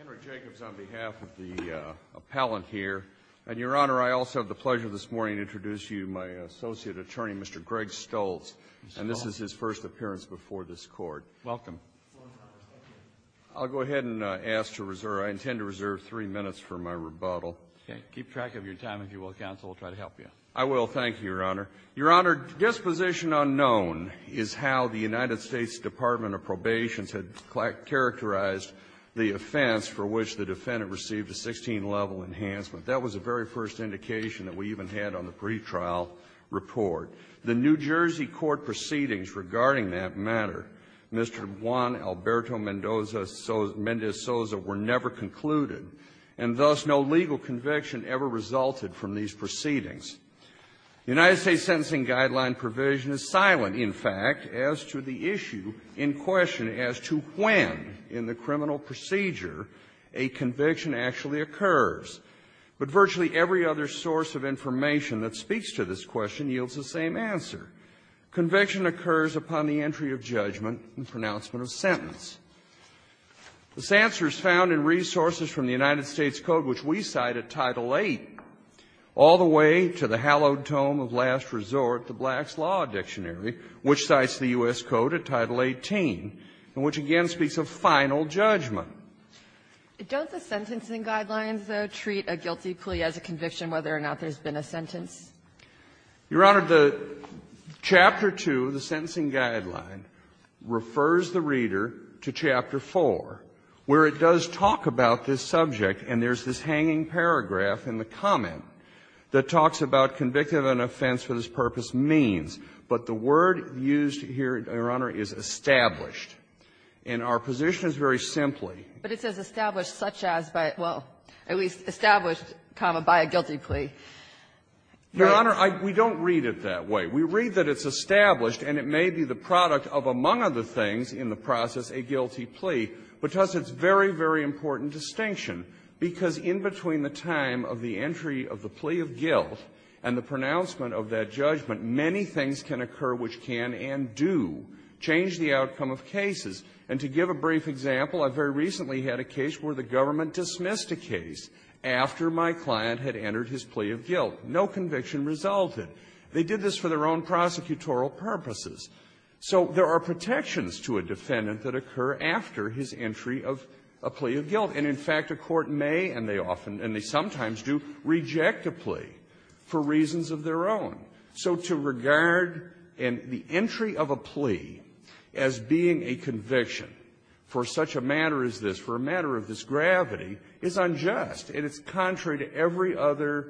Enrich Jacobs on behalf of the appellant here. And, Your Honor, I also have the pleasure this morning to introduce you to my associate attorney, Mr. Greg Stoltz. And this is his first appearance before this Court. Welcome. I'll go ahead and ask to reserve. I intend to reserve three minutes for my rebuttal. Okay. Keep track of your time, if you will, counsel. I'll try to help you. I will. Thank you, Your Honor. Your Honor, disposition unknown is how the United States Department of Probations had characterized the offense for which the defendant received a 16-level enhancement. That was the very first indication that we even had on the pretrial report. The New Jersey court proceedings regarding that matter, Mr. Juan Alberto Mendez-Sosa, were never concluded, and thus no legal conviction ever resulted from these proceedings. The United States Sentencing Guideline provision is silent, in fact, as to the issue in question as to when in the criminal procedure a conviction actually occurs. But virtually every other source of information that speaks to this question yields the same answer. Conviction occurs upon the entry of judgment and pronouncement of sentence. This answer is found in resources from the United States Code, which we cite at Title VIII, all the way to the hallowed tome of last resort, the Black's Law Dictionary, which cites the U.S. Code at Title XVIII, and which, again, speaks of final judgment. Don't the sentencing guidelines, though, treat a guilty plea as a conviction whether or not there's been a sentence? Your Honor, the Chapter 2 of the Sentencing Guideline refers the reader to Chapter 4, where it does talk about this subject, and there's this hanging paragraph in the comment that talks about convictive and offense for this purpose means. But the word used here, Your Honor, is established. And our position is very simply that it's established such as by, well, at least established, comma, by a guilty plea. Your Honor, I don't read it that way. We read that it's established, and it may be the product of, among other things in the process, a guilty plea. But to us, it's a very, very important distinction, because in between the time of the can occur which can and do change the outcome of cases. And to give a brief example, I very recently had a case where the government dismissed a case after my client had entered his plea of guilt. No conviction resulted. They did this for their own prosecutorial purposes. So there are protections to a defendant that occur after his entry of a plea of guilt. And, in fact, a court may, and they often and they sometimes do, reject a plea for reasons of their own. So to regard an entry of a plea as being a conviction for such a matter as this, for a matter of this gravity, is unjust. And it's contrary to every other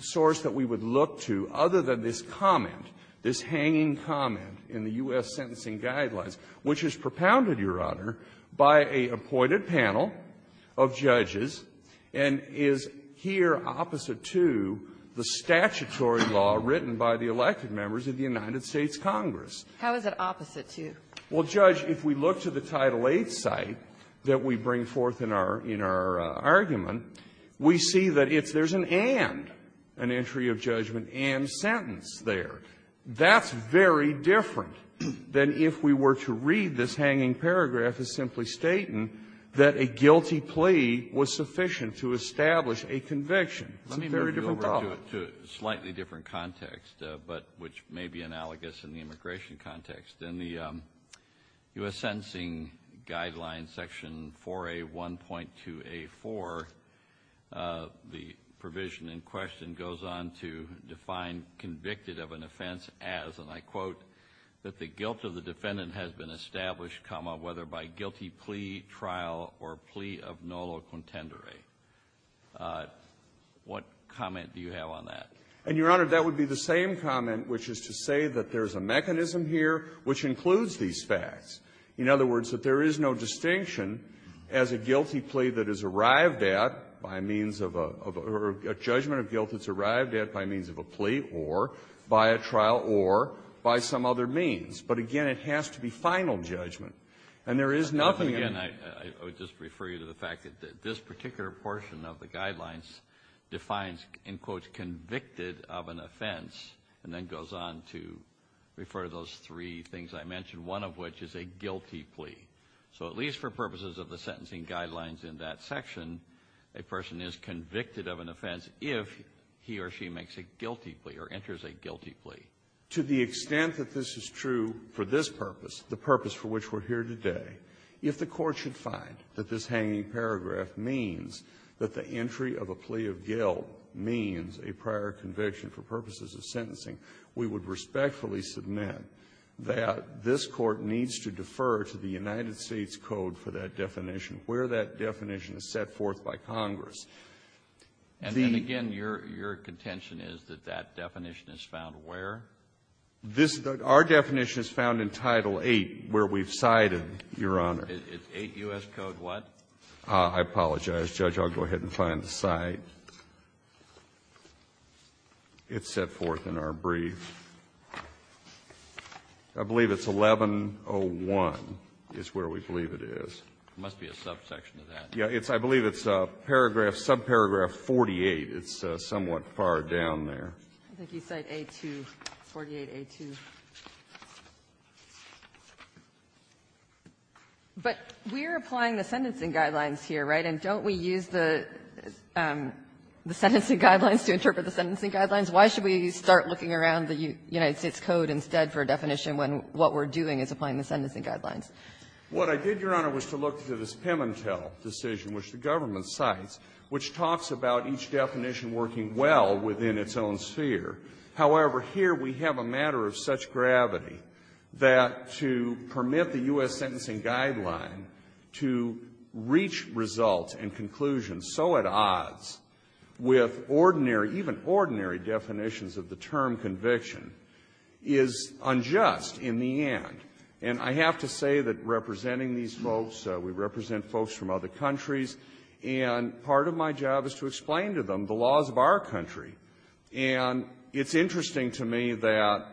source that we would look to other than this comment, this hanging comment in the U.S. Sentencing Guidelines, which is propounded, Your Honor, by a appointed panel of judges and is here opposite to the statutory law written by the elected members of the United States Congress. How is it opposite to? Well, Judge, if we look to the Title VIII site that we bring forth in our argument, we see that it's an and, an entry of judgment and sentence there. That's very different than if we were to read this hanging paragraph as simply stating that a guilty plea was sufficient to establish a conviction. It's a very different problem. To a slightly different context, but which may be analogous in the immigration context. In the U.S. Sentencing Guidelines, Section 4A1.2A4, the provision in question goes on to define convicted of an offense as, and I quote, that the guilt of the defendant has been established, whether by guilty plea, trial, or plea of nolo contendere. What comment do you have on that? And, Your Honor, that would be the same comment, which is to say that there's a mechanism here which includes these facts. In other words, that there is no distinction as a guilty plea that is arrived at by means of a or a judgment of guilt that's arrived at by means of a plea or by a trial or by some other means. But, again, it has to be final judgment. And there is nothing in the ---- portion of the Guidelines defines, in quotes, convicted of an offense, and then goes on to refer to those three things I mentioned, one of which is a guilty plea. So at least for purposes of the Sentencing Guidelines in that section, a person is convicted of an offense if he or she makes a guilty plea or enters a guilty plea. To the extent that this is true for this purpose, the purpose for which we're here today, if the Court should find that this hanging paragraph means that the entry of a plea of guilt means a prior conviction for purposes of sentencing, we would respectfully submit that this Court needs to defer to the United States code for that definition, where that definition is set forth by Congress. The ---- Kennedy, your contention is that that definition is found where? This ---- our definition is found in Title VIII, where we've cited, Your Honor. It's 8 U.S. Code what? I apologize, Judge. I'll go ahead and find the site. It's set forth in our brief. I believe it's 1101 is where we believe it is. It must be a subsection of that. Yeah. It's ---- I believe it's paragraph, subparagraph 48. It's somewhat far down there. I think you cite A2, 48A2. But we're applying the sentencing guidelines here, right? And don't we use the sentencing guidelines to interpret the sentencing guidelines? Why should we start looking around the United States code instead for a definition when what we're doing is applying the sentencing guidelines? What I did, Your Honor, was to look to this Pimentel decision, which the government cites, which talks about each definition working well within its own sphere. However, here we have a matter of such gravity that to permit the U.S. sentencing guideline to reach results and conclusions so at odds with ordinary ---- even ordinary definitions of the term conviction is unjust in the end. And I have to say that representing these folks, we represent folks from other countries, and part of my job is to explain to them the laws of our country. And it's interesting to me that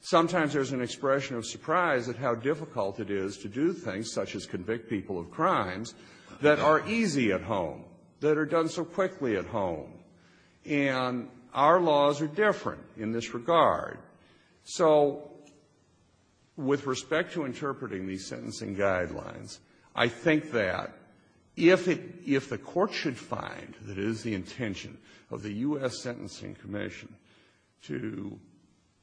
sometimes there's an expression of surprise at how difficult it is to do things such as convict people of crimes that are easy at home, that are done so quickly at home. And our laws are different in this regard. So with respect to interpreting these sentencing guidelines, I think that if it ---- if the Court should find that it is the intention of the U.S. Sentencing Commission to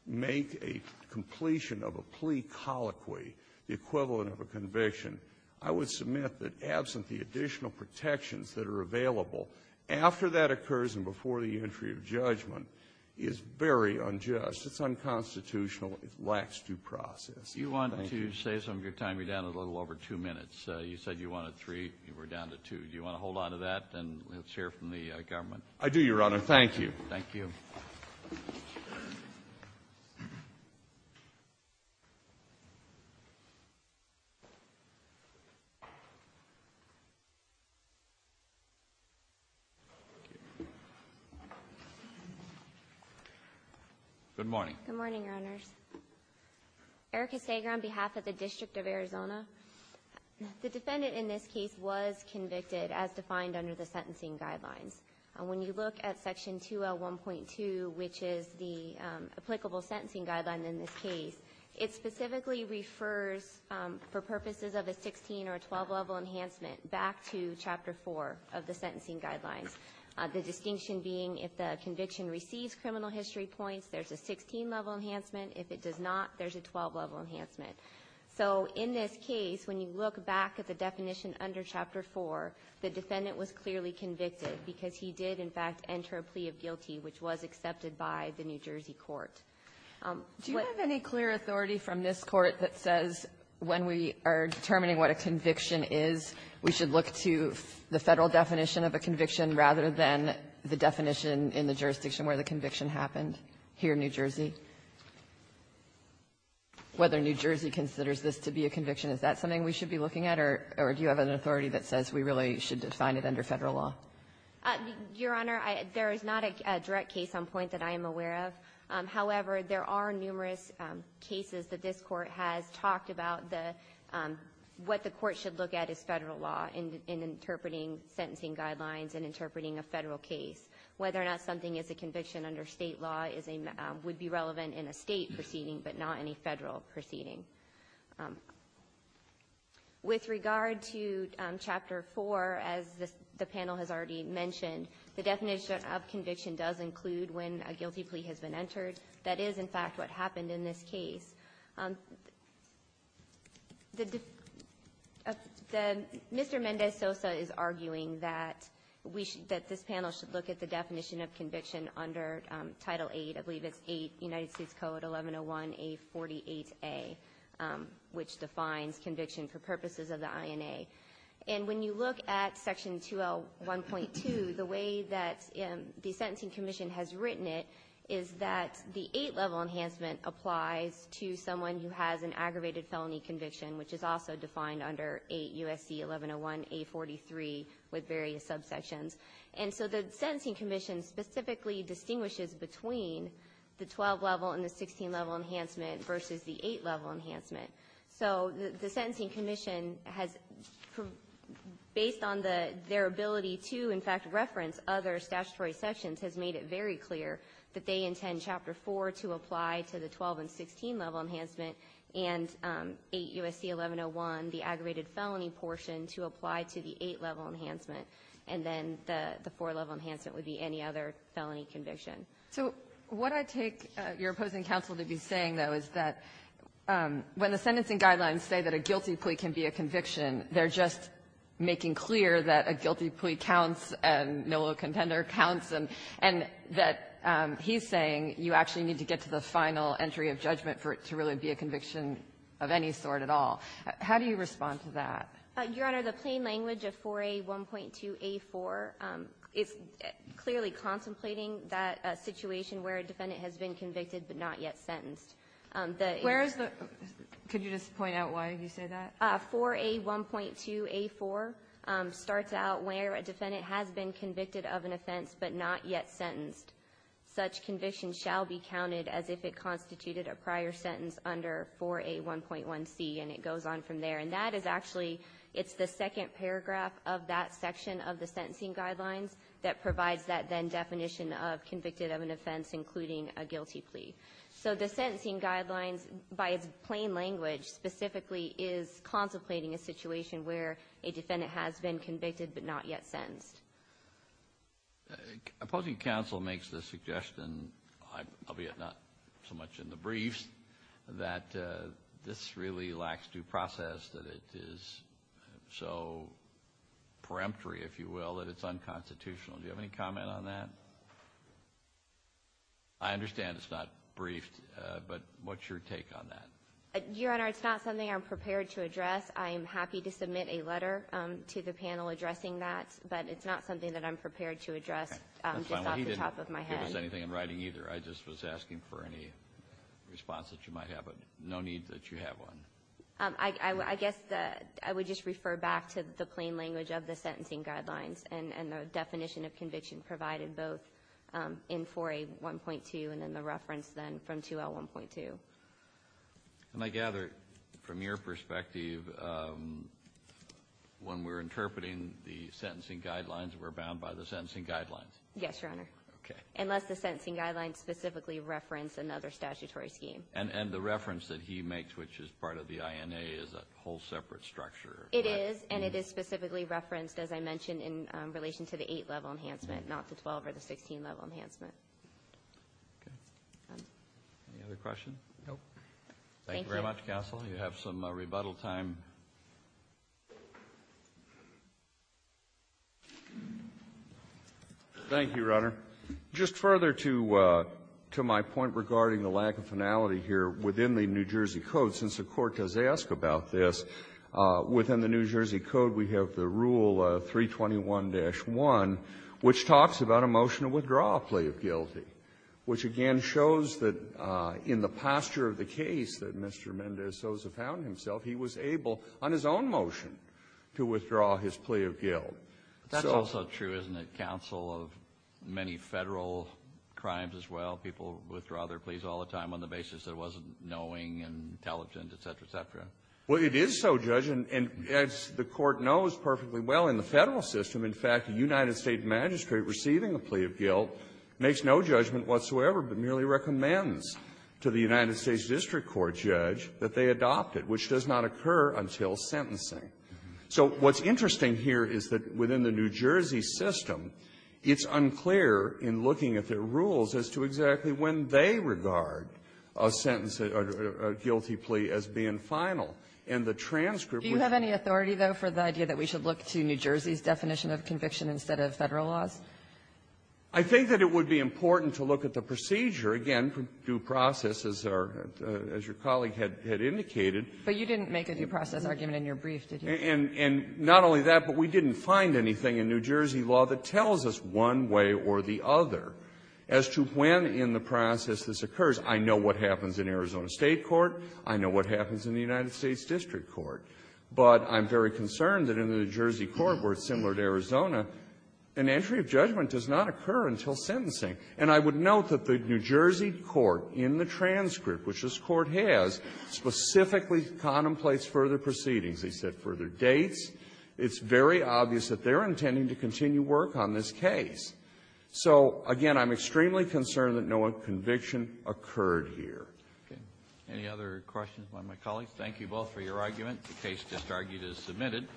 make a completion of a plea colloquy, the equivalent of a conviction, I would submit that absent the additional protections that are available after that occurs and before the entry of judgment is very unjust. It's unconstitutional. It lacks due process. Thank you. Kennedy. You wanted to say something. Your time, you're down a little over two minutes. You said you wanted three. You were down to two. Do you want to hold on to that? And let's hear from the government. I do, Your Honor. Thank you. Thank you. Good morning. Good morning, Your Honors. Erika Sager on behalf of the District of Arizona. The defendant in this case was convicted as defined under the sentencing guidelines. And when you look at Section 2L1.2, which is the applicable sentencing guideline in this case, it specifically refers for purposes of a 16 or 12-level enhancement back to Chapter 4 of the sentencing guidelines. The distinction being if the conviction receives criminal history points, there's a 16-level enhancement. If it does not, there's a 12-level enhancement. So in this case, when you look back at the definition under Chapter 4, the defendant was clearly convicted because he did, in fact, enter a plea of guilty, which was accepted by the New Jersey court. Do you have any clear authority from this Court that says when we are determining what a conviction is, we should look to the Federal definition of a conviction rather than the definition in the jurisdiction where the conviction happened here in New Jersey? Whether New Jersey considers this to be a conviction, is that something we should be looking at, or do you have an authority that says we really should define it under Federal law? Your Honor, there is not a direct case on point that I am aware of. However, there are numerous cases that this Court has talked about what the Court should look at as Federal law in interpreting sentencing guidelines and interpreting a Federal case. Whether or not something is a conviction under State law would be relevant in a State proceeding, but not in a Federal proceeding. With regard to Chapter 4, as the panel has already mentioned, the definition of conviction does include when a guilty plea has been entered. That is, in fact, what happened in this case. Mr. Mendez-Sosa is arguing that we should, that this panel should look at the definition of conviction under Title 8. I believe it's 8, United States Code, 1101A48A, which defines conviction for purposes of the INA. And when you look at Section 2L1.2, the way that the sentencing commission has written it is that the 8-level enhancement applies to someone who has an aggravated felony conviction, which is also defined under 8 U.S.C. 1101A43 with various subsections. And so the sentencing commission specifically distinguishes between the 12-level and the 16-level enhancement versus the 8-level enhancement. So the sentencing commission has, based on their ability to, in fact, reference other statutory sections, has made it very clear that they intend Chapter 4 to apply to the 12-and-16-level enhancement and 8 U.S.C. 1101, the aggravated felony portion, to apply to the 8-level enhancement. And then the 4-level enhancement would be any other felony conviction. So what I take your opposing counsel to be saying, though, is that when the sentencing guidelines say that a guilty plea can be a conviction, they're just making clear that a guilty plea counts and no contender counts, and that he's saying you actually need to get to the final entry of judgment for it to really be a conviction of any sort at all. How do you respond to that? Your Honor, the plain language of 4A1.2a4 is clearly contemplating that situation where a defendant has been convicted but not yet sentenced. The answer to that is that the 4A1.2a4 is clearly contemplating that the 4A1.2a4 starts out where a defendant has been convicted of an offense but not yet sentenced. Such conviction shall be counted as if it constituted a prior sentence under 4A1.1c. And it goes on from there. And that is actually the second paragraph of that section of the sentencing guidelines that provides that then definition of convicted of an offense including a guilty plea. So the sentencing guidelines, by its plain language, specifically is contemplating a situation where a defendant has been convicted but not yet sentenced. Opposing counsel makes the suggestion, albeit not so much in the briefs, that this really lacks due process, that it is so preemptory, if you will, that it's unconstitutional. Do you have any comment on that? I understand it's not briefed, but what's your take on that? Your Honor, it's not something I'm prepared to address. I am happy to submit a letter to the panel addressing that, but it's not something that I'm prepared to address just off the top of my head. He didn't give us anything in writing either. I just was asking for any response that you might have, but no need that you have one. I guess I would just refer back to the plain language of the sentencing guidelines and the definition of conviction provided both in 4A1.2 and in the reference then from 2L1.2. And I gather, from your perspective, when we're interpreting the sentencing guidelines, we're bound by the sentencing guidelines. Yes, Your Honor. Okay. Unless the sentencing guidelines specifically reference another statutory scheme. And the reference that he makes, which is part of the INA, is a whole separate structure. It is, and it is specifically referenced, as I mentioned, in relation to the 8-level enhancement, not the 12 or the 16-level enhancement. Okay. Any other questions? No. Thank you. Thank you very much, counsel. You have some rebuttal time. Thank you, Your Honor. Just further to my point regarding the lack of finality here within the New Jersey Code, since the Court does ask about this, within the New Jersey Code we have the Rule 321-1, which talks about a motion to withdraw a plea of guilty, which again shows that in the posture of the case that Mr. Mendez-Sosa found himself, he was able, on his own motion, to withdraw his plea of guilt. That's also true, isn't it, counsel, of many Federal crimes as well. People withdraw their pleas all the time on the basis that it wasn't knowing and intelligent, et cetera, et cetera. Well, it is so, Judge. And as the Court knows perfectly well in the Federal system, in fact, a United States district court judge that they adopted, which does not occur until sentencing. So what's interesting here is that within the New Jersey system, it's unclear in looking at their rules as to exactly when they regard a sentence or a guilty plea as being final. And the transcript would be the same. Do you have any authority, though, for the idea that we should look to New Jersey's definition of conviction instead of Federal laws? I think that it would be important to look at the procedure, again, for due process, as your colleague had indicated. But you didn't make a due process argument in your brief, did you? And not only that, but we didn't find anything in New Jersey law that tells us one way or the other as to when in the process this occurs. I know what happens in Arizona State court. I know what happens in the United States district court. But I'm very concerned that in the New Jersey court, where it's similar to Arizona, an entry of judgment does not occur until sentencing. And I would note that the New Jersey court in the transcript, which this Court has, specifically contemplates further proceedings. They set further dates. It's very obvious that they're intending to continue work on this case. So, again, I'm extremely concerned that no conviction occurred here. Okay. Any other questions by my colleagues? Thank you both for your argument. The case just argued is submitted.